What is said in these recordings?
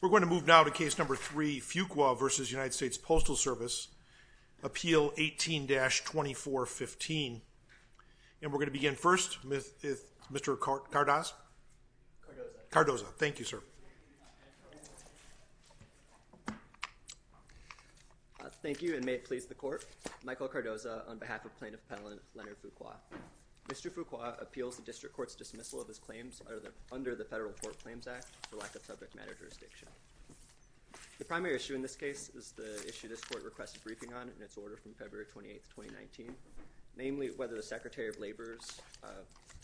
We're going to move now to case number three, Fuqua v. United States Postal Service, Appeal 18-2415. And we're going to begin first with Mr. Cardoza. Thank you, sir. Thank you and may it please the court. Michael Cardoza on behalf of plaintiff appellant Leonard Fuqua. Mr. Fuqua appeals the district court's dismissal of his claims under the Federal Court Claims Act for lack of subject matter jurisdiction. The primary issue in this case is the issue this court requested briefing on in its order from February 28, 2019, namely whether the Secretary of Labor's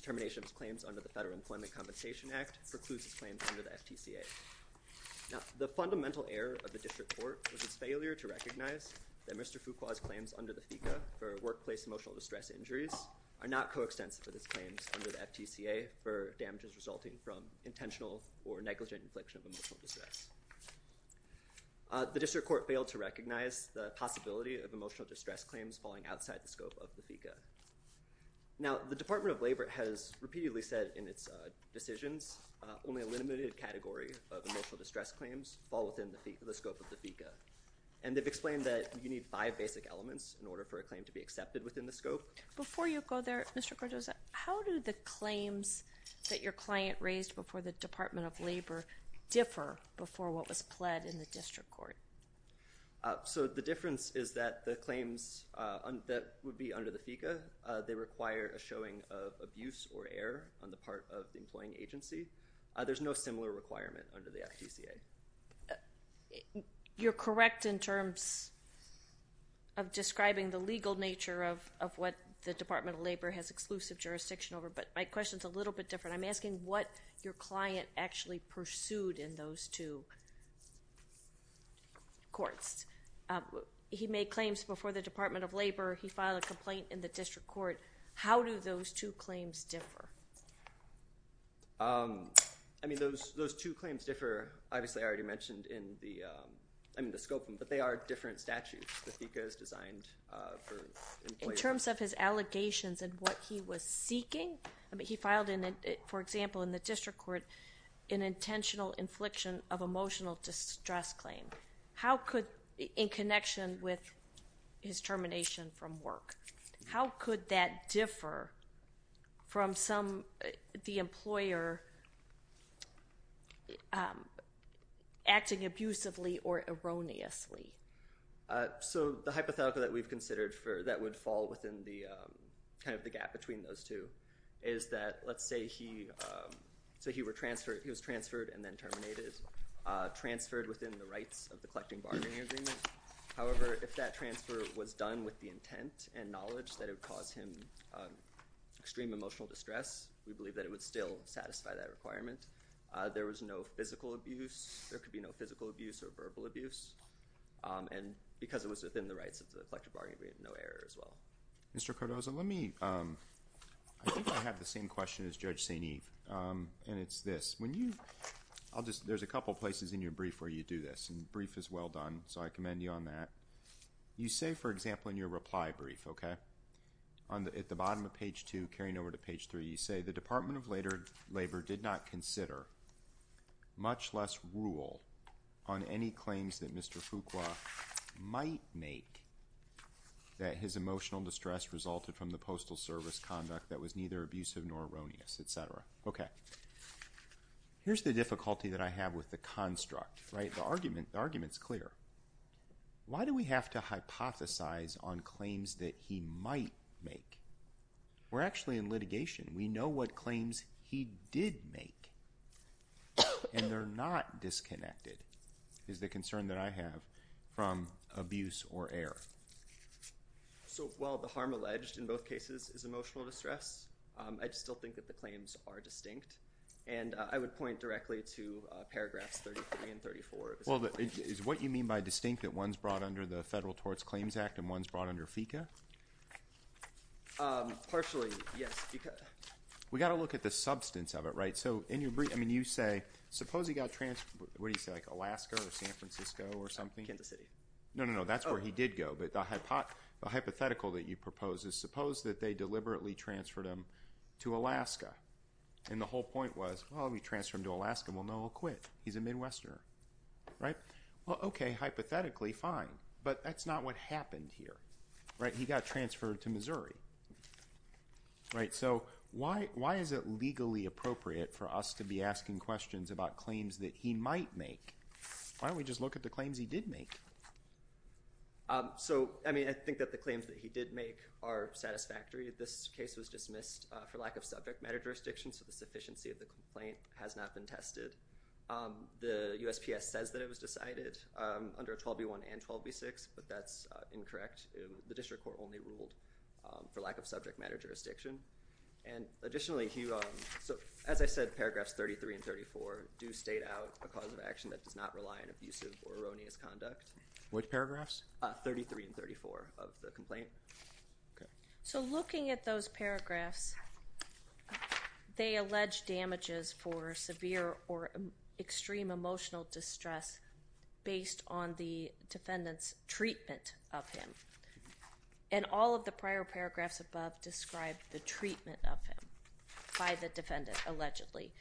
termination of his claims under the Federal Employment Compensation Act precludes his claims under the FTCA. Now, the fundamental error of the district court was its failure to recognize that Mr. Fuqua's claims under the FICA for workplace emotional distress injuries are not coextensive with his claims under the FTCA for damages resulting from intentional or negligent infliction of emotional distress claims falling outside the scope of the FICA. Now, the Department of Labor has repeatedly said in its decisions only a limited category of emotional distress claims fall within the scope of the FICA. And they've explained that you need five basic elements in order for a claim to be accepted within the scope. Before you go there, Mr. Cardoza, how do the claims that your client raised before the Department of Labor differ before what was that the claims that would be under the FICA? They require a showing of abuse or error on the part of the employing agency. There's no similar requirement under the FTCA. You're correct in terms of describing the legal nature of what the Department of Labor has exclusive jurisdiction over, but my question's a little bit different. I'm asking what your client actually pursued in those two courts. He made claims before the Department of Labor. He filed a complaint in the district court. How do those two claims differ? I mean, those two claims differ, obviously, I already mentioned in the scope, but they are different statutes the FICA is designed for. In terms of his allegations and what he was seeking, I mean, he filed in, for example, in the district court an intentional infliction of emotional distress claim in connection with his termination from work. How could that differ from the employer acting abusively or erroneously? So the hypothetical that we've considered that would fall within the gap between those two is that, let's say he was transferred and then terminated, transferred within the rights of the collecting bargaining agreement. However, if that transfer was done with the intent and knowledge that it would cause him extreme emotional distress, we believe that it would still satisfy that requirement. There was no physical abuse. There could be no physical abuse or verbal abuse, and because it was within the rights of the I think I have the same question as Judge St. Eve, and it's this. There's a couple places in your brief where you do this, and the brief is well done, so I commend you on that. You say, for example, in your reply brief, okay, at the bottom of page two, carrying over to page three, you say the Department of Labor did not consider, much less rule, on any claims that Mr. Fuqua might make that his emotional distress resulted from the Postal Service conduct that was neither abusive nor erroneous, etc. Okay. Here's the difficulty that I have with the construct, right? The argument's clear. Why do we have to hypothesize on claims that he might make? We're actually in litigation. We know what claims he did make, and they're not disconnected, is the concern that I have, from abuse or error. So while the harm alleged in both cases is emotional distress, I still think that the claims are distinct, and I would point directly to paragraphs 33 and 34. Well, is what you mean by distinct that one's brought under the Federal Torts Claims Act and one's brought under FECA? Partially, yes. We've got to look at the substance of it, right? So in your brief, I mean, you say, suppose he got transferred, what do you say, like Alaska or San Francisco or something? Kansas City. No, no, no. That's where he did go. But the hypothetical that you propose is, suppose that they deliberately transferred him to Alaska, and the whole point was, well, let me transfer him to Alaska. Well, no, he'll quit. He's a Midwesterner, right? Well, okay, hypothetically, fine. But that's not what happened here, right? He got transferred to he might make. Why don't we just look at the claims he did make? So, I mean, I think that the claims that he did make are satisfactory. This case was dismissed for lack of subject matter jurisdiction, so the sufficiency of the complaint has not been tested. The USPS says that it was decided under 12b1 and 12b6, but that's incorrect. The district court only ruled for lack of subject matter jurisdiction. And additionally, so as I said, paragraphs 33 and 34 do state out a cause of action that does not rely on abusive or erroneous conduct. Which paragraphs? 33 and 34 of the complaint. So looking at those paragraphs, they allege damages for severe or extreme emotional distress based on the defendant's treatment of him. And all of the prior paragraphs above describe the treatment of him by the defendant allegedly.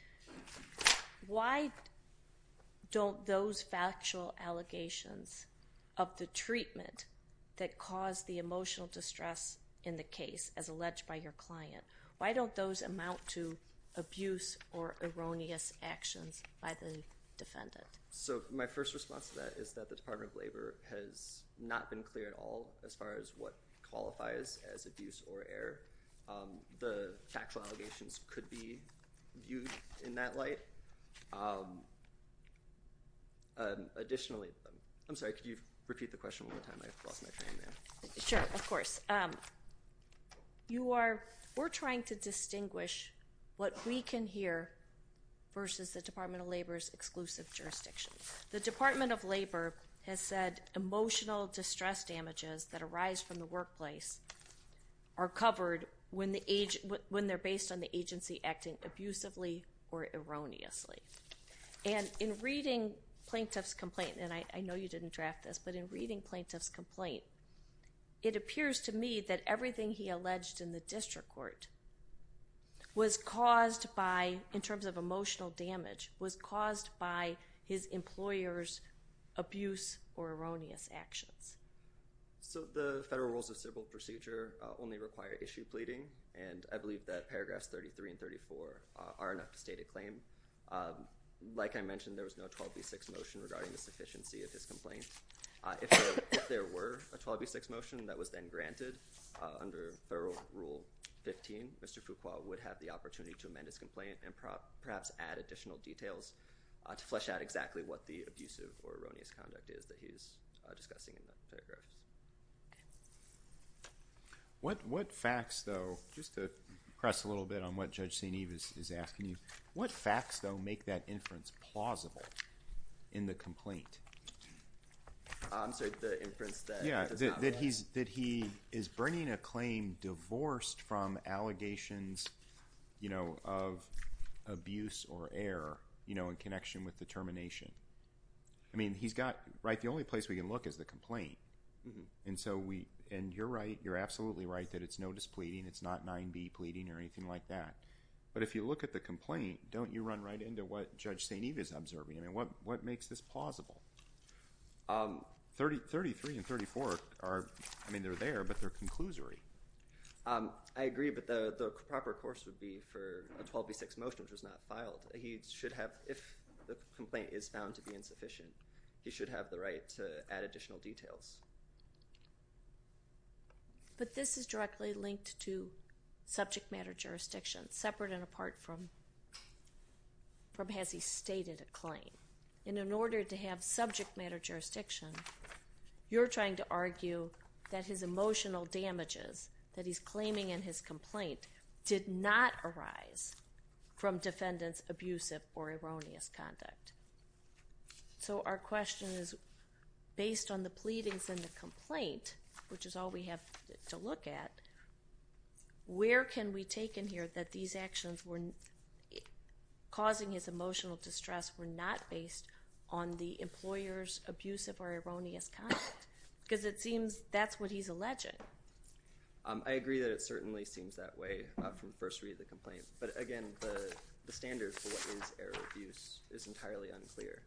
Why don't those factual allegations of the treatment that caused the emotional distress in the case as alleged by your client, why don't those amount to abuse or erroneous actions by the defendant? So my first response to that is that the Department of Labor has not been clear at all as far as what the factual allegations could be viewed in that light. Additionally, I'm sorry, could you repeat the question one more time? I lost my train of thought. Sure, of course. You are, we're trying to distinguish what we can hear versus the Department of Labor's exclusive jurisdiction. The Department of Labor has said emotional distress damages that arise from the workplace are covered when they're based on the agency acting abusively or erroneously. And in reading plaintiff's complaint, and I know you didn't draft this, but in reading plaintiff's complaint, it appears to me that everything he alleged in the district court was caused by, in terms of emotional damage, was caused by his employer's abuse or So the federal rules of civil procedure only require issue pleading, and I believe that paragraphs 33 and 34 are enough to state a claim. Like I mentioned, there was no 12B6 motion regarding the sufficiency of his complaint. If there were a 12B6 motion that was then granted under Federal Rule 15, Mr. Fuqua would have the opportunity to amend his complaint and perhaps add additional details to flesh out exactly what the abusive or erroneous conduct is that he's discussing in the paragraphs. What facts, though, just to press a little bit on what Judge St. Eve is asking you, what facts, though, make that inference plausible in the complaint? I'm sorry, the inference that— Yeah, that he is bringing a claim divorced from allegations of abuse or error in connection with is the complaint. And so we—and you're right, you're absolutely right that it's notice pleading, it's not 9B pleading or anything like that. But if you look at the complaint, don't you run right into what Judge St. Eve is observing? I mean, what makes this plausible? 33 and 34 are—I mean, they're there, but they're conclusory. I agree, but the proper course would be for a 12B6 motion, which was not filed. He should have—if the complaint is found to be insufficient, he should have the right to add additional details. But this is directly linked to subject matter jurisdiction, separate and apart from has he stated a claim. And in order to have subject matter jurisdiction, you're trying to argue that his emotional damages that he's claiming in his complaint did not arise from defendant's abusive or erroneous conduct. So our question is, based on the pleadings in the complaint, which is all we have to look at, where can we take in here that these actions were—causing his emotional distress were not based on the employer's abusive or erroneous conduct? Because it seems that's what he's alleging. I agree that it certainly seems that way from first read of the complaint. But again, the standard for what is error of use is entirely unclear.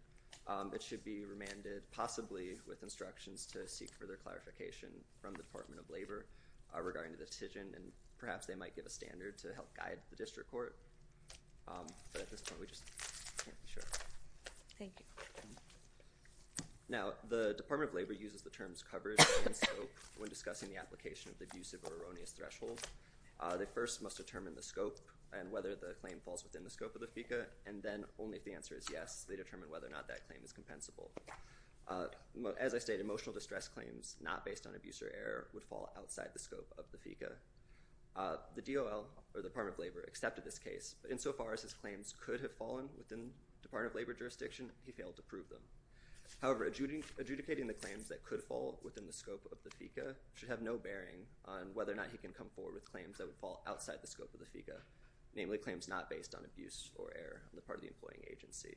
It should be remanded, possibly with instructions to seek further clarification from the Department of Labor regarding the decision, and perhaps they might give a standard to help guide the district court. But at this point, we just can't be sure. Thank you. Now, the Department of Labor uses the terms coverage and scope when discussing the application of the abusive or erroneous threshold. They first must determine the scope and whether the claim falls within the scope of the FECA, and then only if the answer is yes, they determine whether or not that claim is compensable. As I stated, emotional distress claims not based on abuse or error would fall outside the scope of the FECA. The DOL, or the Department of Labor, accepted this case, but insofar as his claims could have fallen within Department of Labor jurisdiction, he failed to prove them. However, adjudicating the claims that could fall within the scope of the FECA should have no bearing on whether or not he can come forward with claims that would fall outside the scope of the FECA, namely claims not based on abuse or error on the part of the employing agency.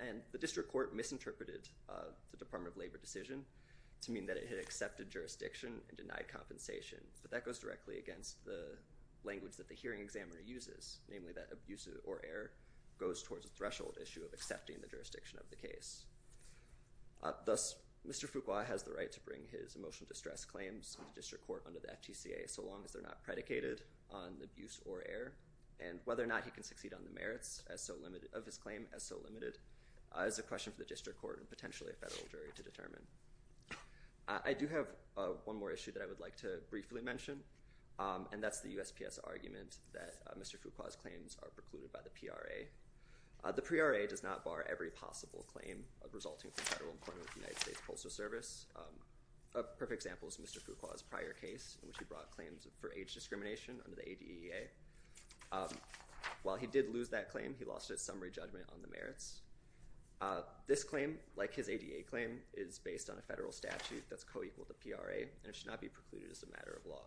And the district court misinterpreted the Department of Labor decision to mean that it had accepted jurisdiction and denied compensation, but that goes directly against the language that the hearing examiner uses, namely that abuse or error goes towards a threshold issue of accepting the jurisdiction of the case. Thus, Mr. Fuqua has the right to bring his emotional distress claims to the district court under the FTCA so long as they're not predicated on the abuse or error, and whether or not he can succeed on the merits of his claim as so limited is a question for the district court and potentially a federal jury to determine. I do have one more issue that I would like to briefly mention, and that's the USPS argument that Mr. Fuqua's claims are precluded by the PRA. The PRA does not bar every possible claim of resulting from federal employment with the United States Postal Service. A perfect example is Mr. Fuqua's prior case in which he brought claims for age discrimination under the ADEA. While he did lose that claim, he lost his summary judgment on the merits. This claim, like his ADA claim, is based on a federal statute that's co-equal to PRA, and it should not be precluded as a matter of law.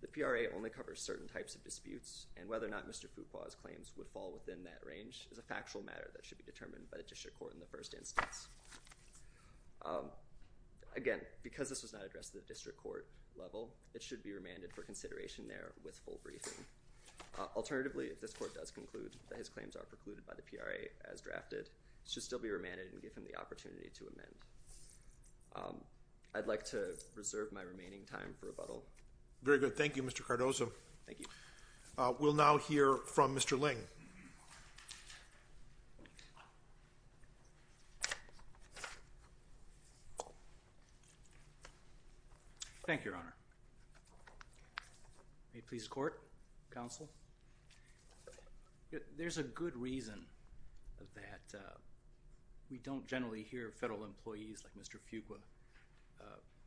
The PRA only covers certain types of disputes, and whether or not Mr. Fuqua's claims would fall within that range is a factual matter that should be determined by the district court in the first instance. Again, because this was not addressed at the district court level, it should be remanded for consideration there with full briefing. Alternatively, if this court does conclude that his claims are precluded by the PRA as drafted, it should still be remanded and give him the opportunity to amend. I'd like to reserve my remaining time for rebuttal. Very good. Thank you, Mr. Cardozo. Thank you. We'll now hear from Mr. Ling. Thank you, Your Honor. May it please the court, counsel? There's a good reason that we don't generally hear federal employees like Mr. Fuqua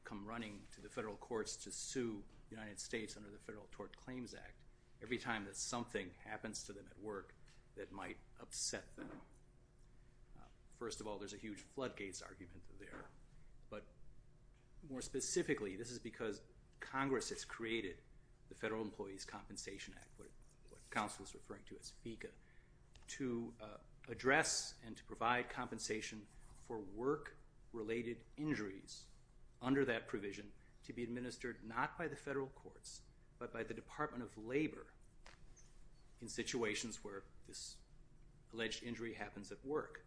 come running to the federal courts to sue the United States under the Federal Tort Claims Act every time that something happens to them at work that might upset them. First of all, there's a huge floodgates argument there, but more specifically, this is because Congress has created the Federal Employees Compensation Act, what counsel is referring to as FECA, to address and to provide compensation for work-related injuries under that provision to be administered not by the federal courts, but by the Department of Labor in situations where this alleged injury happens at work.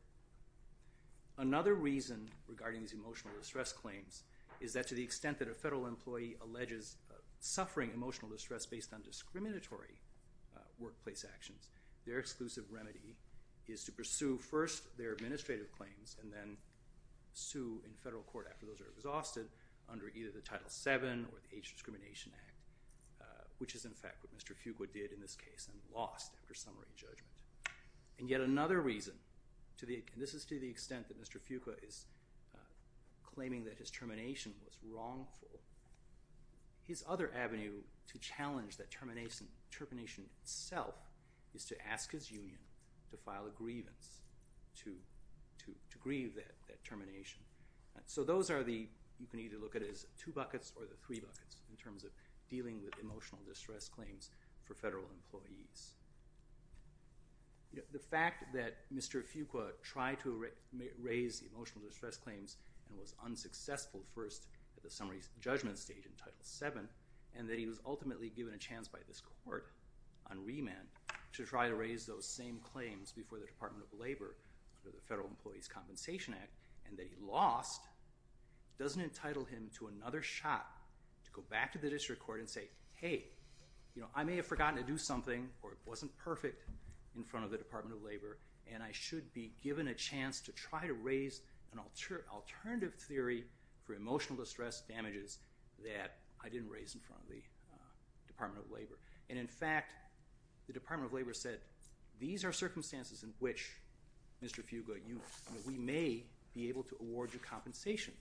Another reason regarding these emotional distress claims is that to the extent that a federal employee alleges suffering emotional distress based on discriminatory workplace actions, their exclusive remedy is to pursue first their administrative claims and then sue in federal court after those are exhausted under either the Title VII or the Age Discrimination Act, which is in fact what Mr. Fuqua did in this case and lost after summary judgment. And yet another reason, and this is to the extent that Mr. Fuqua is claiming that his termination was wrongful, his other avenue to challenge that termination itself is to ask his union to file a grievance to grieve that termination. So those are the, you can either look at it as two buckets or the three buckets in terms of the fact that Mr. Fuqua tried to raise emotional distress claims and was unsuccessful first at the summary judgment stage in Title VII and that he was ultimately given a chance by this court on remand to try to raise those same claims before the Department of Labor under the Federal Employees Compensation Act and that he lost doesn't entitle him to another shot to go back to the district court and say, hey, you know, I may have forgotten to do something or it wasn't perfect in front of the Department of Labor and I should be given a chance to try to raise an alternative theory for emotional distress damages that I didn't raise in front of the Department of Labor. And in fact, the Department of Labor said, these are circumstances in which, Mr. Fuqua, we may be able to award you compensation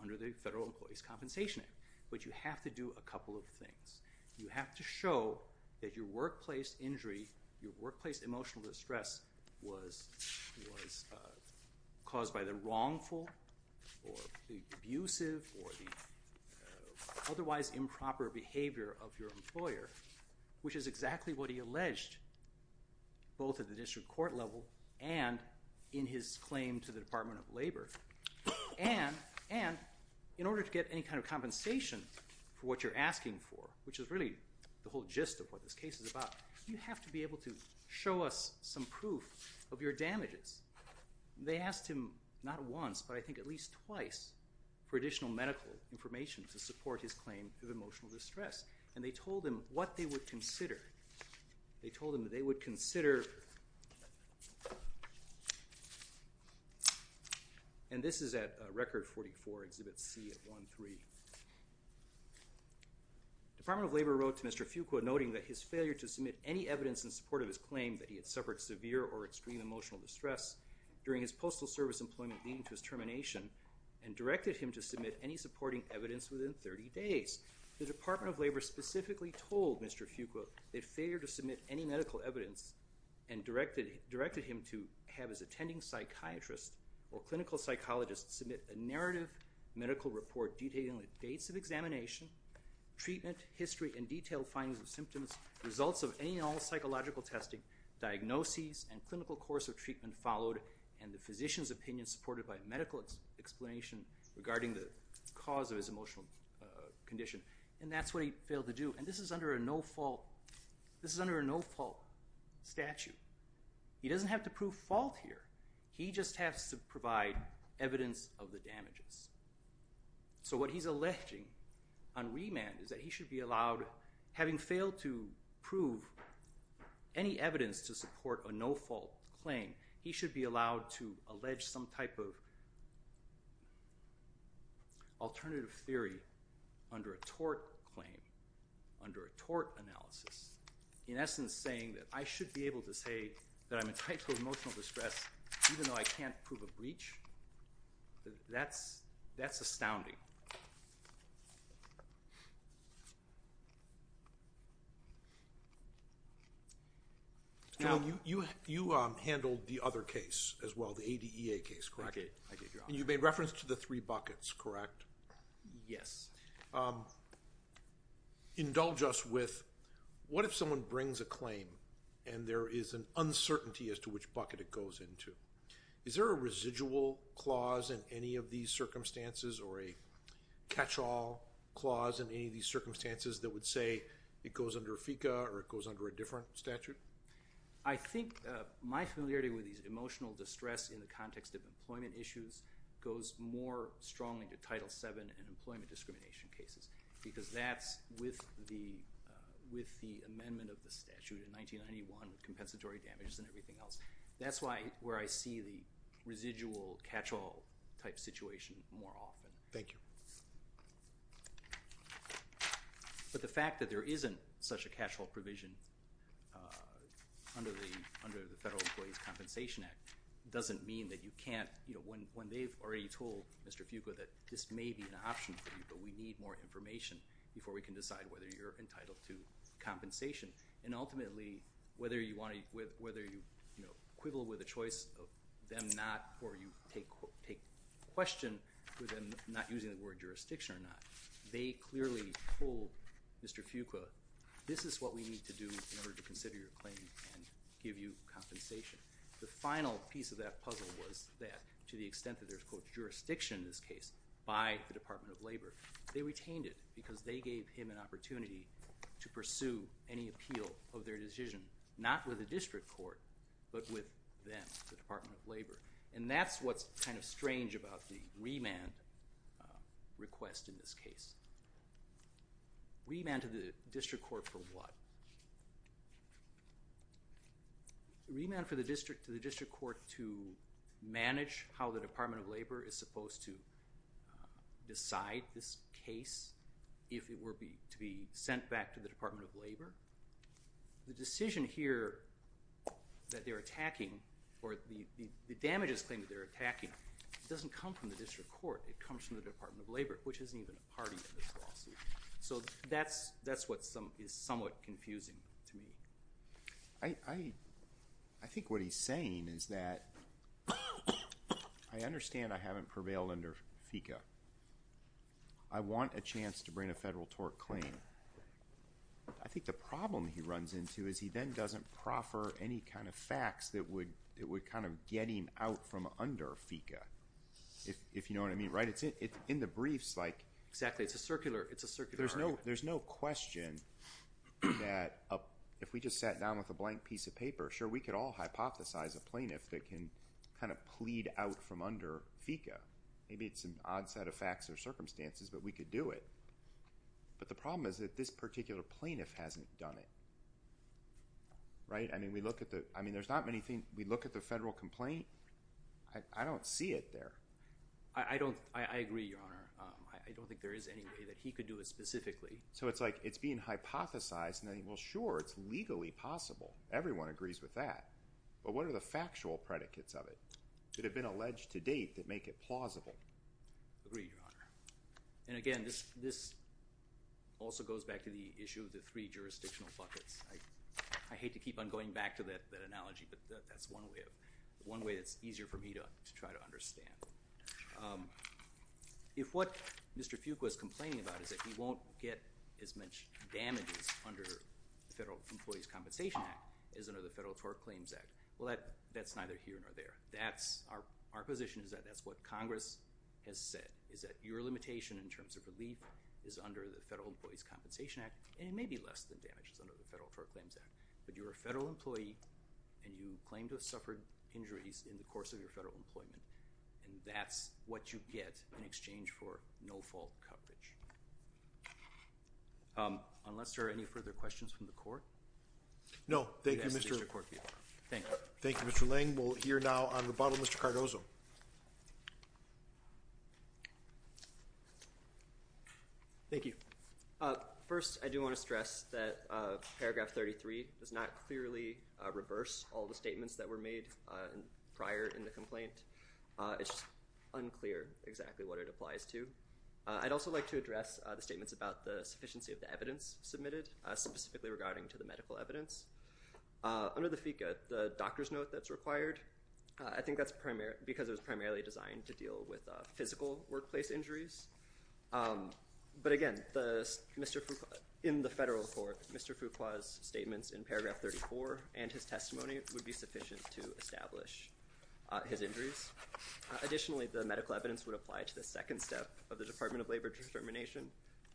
under the Federal Employees Compensation Act, but you have to do a couple of things. You have to show that your workplace injury, your workplace emotional distress was caused by the wrongful or the abusive or the otherwise improper behavior of your employer, which is exactly what he alleged both at the district court level and in his claim to the Department of Labor. And in order to get any kind of compensation for what you're asking for, which is really the whole gist of what this case is about, you have to be able to show us some proof of your damages. They asked him not once, but I think at least twice, for additional medical information to support his claim of emotional distress. And they told him what they would consider. They told him that they would consider, and this is at Record 44, Exhibit C at 1-3. Department of Labor wrote to Mr. Fuqua noting that his failure to submit any evidence in support of his claim that he had suffered severe or extreme emotional distress during his postal service employment leading to his termination and directed him to submit any supporting evidence within 30 days. The Department of Labor specifically told Mr. Fuqua that failure to submit any medical evidence and directed him to have his attending psychiatrist or clinical psychologist submit a narrative medical report detailing the dates of examination, treatment, history, and detailed findings of symptoms, results of any and all psychological testing, diagnoses, and clinical course of treatment followed, and the physician's opinion supported by medical explanation regarding the cause of his emotional condition. And that's what he failed to do. And this is under a no-fault statute. He doesn't have to prove fault here. He just has to provide evidence of the damages. So what he's alleging on remand is that he should be allowed, having failed to prove any evidence to support a no-fault claim, he should be allowed to allege some type of alternative theory under a tort claim, under a tort analysis, in essence saying that I should be able to say that I'm entitled to emotional distress even though I can't prove a breach. That's astounding. Now, you handled the other case as well, the ADEA case, correct? I did. I did, Your Honor. And you've made reference to the three buckets, correct? Yes. Indulge us with, what if someone brings a claim and there is an uncertainty as to which bucket it goes into? Is there a residual clause in any of these circumstances or a catch-all clause in any of these circumstances that would say it goes under a FECA or it goes under a different statute? I think my familiarity with these emotional distress in the context of employment issues goes more strongly to Title VII and employment discrimination cases because that's with the amendment of the statute in 1991 with compensatory damages and everything else. That's where I see the residual catch-all type situation more often. Thank you. But the fact that there isn't such a catch-all provision under the Federal Employees' Compensation Act doesn't mean that you can't, you know, when they've already told Mr. Fuqua that this may be an option for you but we need more information before we can decide whether you're entitled to compensation. And ultimately, whether you want to, whether you, you know, quibble with the choice of or you take question with them not using the word jurisdiction or not, they clearly told Mr. Fuqua, this is what we need to do in order to consider your claim and give you compensation. The final piece of that puzzle was that to the extent that there's, quote, jurisdiction in this case by the Department of Labor, they retained it because they gave him an opportunity to pursue any appeal of their decision, not with the district court but with them, the Department of Labor. And that's what's kind of strange about the remand request in this case. Remand to the district court for what? Remand for the district, to the district court to manage how the Department of Labor is supposed to decide this case if it were to be sent back to the Department of Labor. The decision here that they're attacking or the damages claim that they're attacking, it doesn't come from the district court, it comes from the Department of Labor, which isn't even a party to this lawsuit. So that's, that's what some, is somewhat confusing to me. I, I, I think what he's saying is that I understand I haven't prevailed under FECA. I want a chance to bring a federal tort claim. I think the problem he runs into is he then doesn't proffer any kind of facts that would, it would kind of getting out from under FECA, if, if you know what I mean, right? It's in, it's in the briefs like. Exactly, it's a circular, it's a circular argument. There's no, there's no question that if we just sat down with a blank piece of paper, sure, we could all hypothesize a plaintiff that can kind of plead out from under FECA. Maybe it's an odd set of facts or circumstances, but we could do it. But the problem is that this particular plaintiff hasn't done it, right? I mean, we look at the, I mean, there's not many things, we look at the federal complaint, I, I don't see it there. I, I don't, I, I agree, Your Honor. I, I don't think there is any way that he could do it specifically. So it's like it's being hypothesized and then, well, sure, it's legally possible. Everyone agrees with that. But what are the factual predicates of it that have been alleged to date that make it plausible? Agree, Your Honor. And again, this, this also goes back to the issue of the three jurisdictional buckets. I, I hate to keep on going back to that, that analogy, but that's one way of, one way that's easier for me to, to try to understand. Um, if what Mr. Fuqua is complaining about is that he won't get as much damages under the Federal Employees' Compensation Act as under the Federal Tort Claims Act, well, that, that's neither here nor there. That's our, our position is that that's what Congress has said, is that your limitation in terms of relief is under the Federal Employees' Compensation Act, and it may be less than damages under the Federal Tort Claims Act. But you're a federal employee and you claim to have suffered injuries in the course of your federal employment, and that's what you get in exchange for no fault coverage. Um, unless there are any further questions from the Court? No, thank you, Mr. Thank you, Mr. Lange. We'll hear now on rebuttal, Mr. Cardozo. Thank you. Uh, first, I do want to stress that, uh, paragraph 33 does not clearly, uh, reverse all the statements that were made, uh, prior in the complaint. Uh, it's unclear exactly what it applies to. Uh, I'd also like to address, uh, the statements about the sufficiency of the evidence submitted, uh, specifically regarding to the medical evidence. Uh, under the FECA, the doctor's note that's required, uh, I think that's primary, because it was primarily designed to deal with, uh, physical workplace injuries. Um, but again, the, Mr. Fuqua, in the federal court, Mr. Fuqua's statements in paragraph 34 and his testimony would be sufficient to apply to the second step of the Department of Labor Discrimination,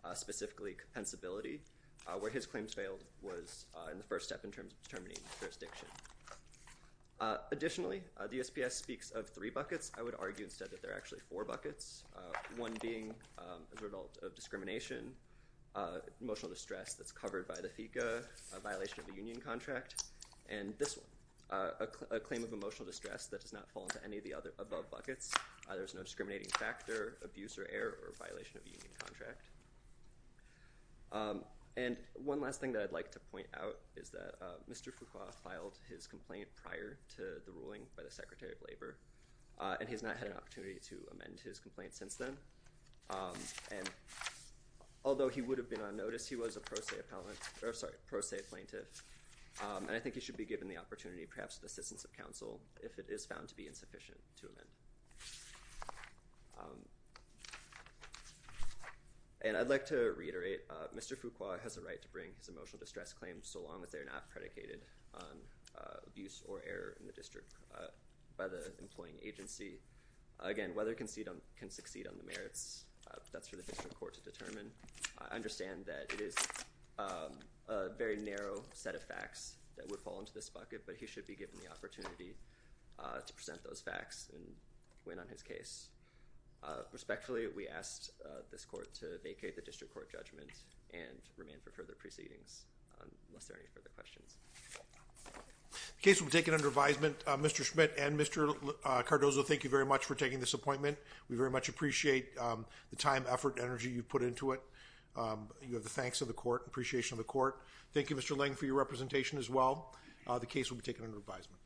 uh, specifically compensability, uh, where his claims failed was, uh, in the first step in terms of determining jurisdiction. Uh, additionally, uh, the SPS speaks of three buckets. I would argue instead that there are actually four buckets, uh, one being, um, as a result of discrimination, uh, emotional distress that's covered by the FECA, a violation of a union contract, and this one, uh, a claim of emotional distress that does not fall into any of the other above buckets. Uh, there's no discriminating factor, abuse or error, or violation of union contract. Um, and one last thing that I'd like to point out is that, uh, Mr. Fuqua filed his complaint prior to the ruling by the Secretary of Labor, uh, and he's not had an opportunity to amend his complaint since then. Um, and although he would have been on notice, he was a pro se appellant, or sorry, pro se plaintiff, um, and I think he should be given the opportunity, perhaps with assistance of counsel, if it is insufficient to amend. Um, and I'd like to reiterate, uh, Mr. Fuqua has a right to bring his emotional distress claim so long as they're not predicated on, uh, abuse or error in the district, uh, by the employing agency. Uh, again, whether he can succeed on the merits, uh, that's for the district court to determine. I understand that it is, um, a very narrow set of facts that would fall into this bucket, but he should be given the opportunity, uh, to present those facts and win on his case. Uh, respectfully, we asked, uh, this court to vacate the district court judgment and remain for further proceedings, unless there are any further questions. The case will be taken under advisement. Uh, Mr. Schmidt and Mr. Cardozo, thank you very much for taking this appointment. We very much appreciate, um, the time, effort and energy you've put into it. Um, you have the thanks of the court, appreciation of the court. Thank you, Mr. Lang, for your representation as well. Uh, the case will be taken under advisement.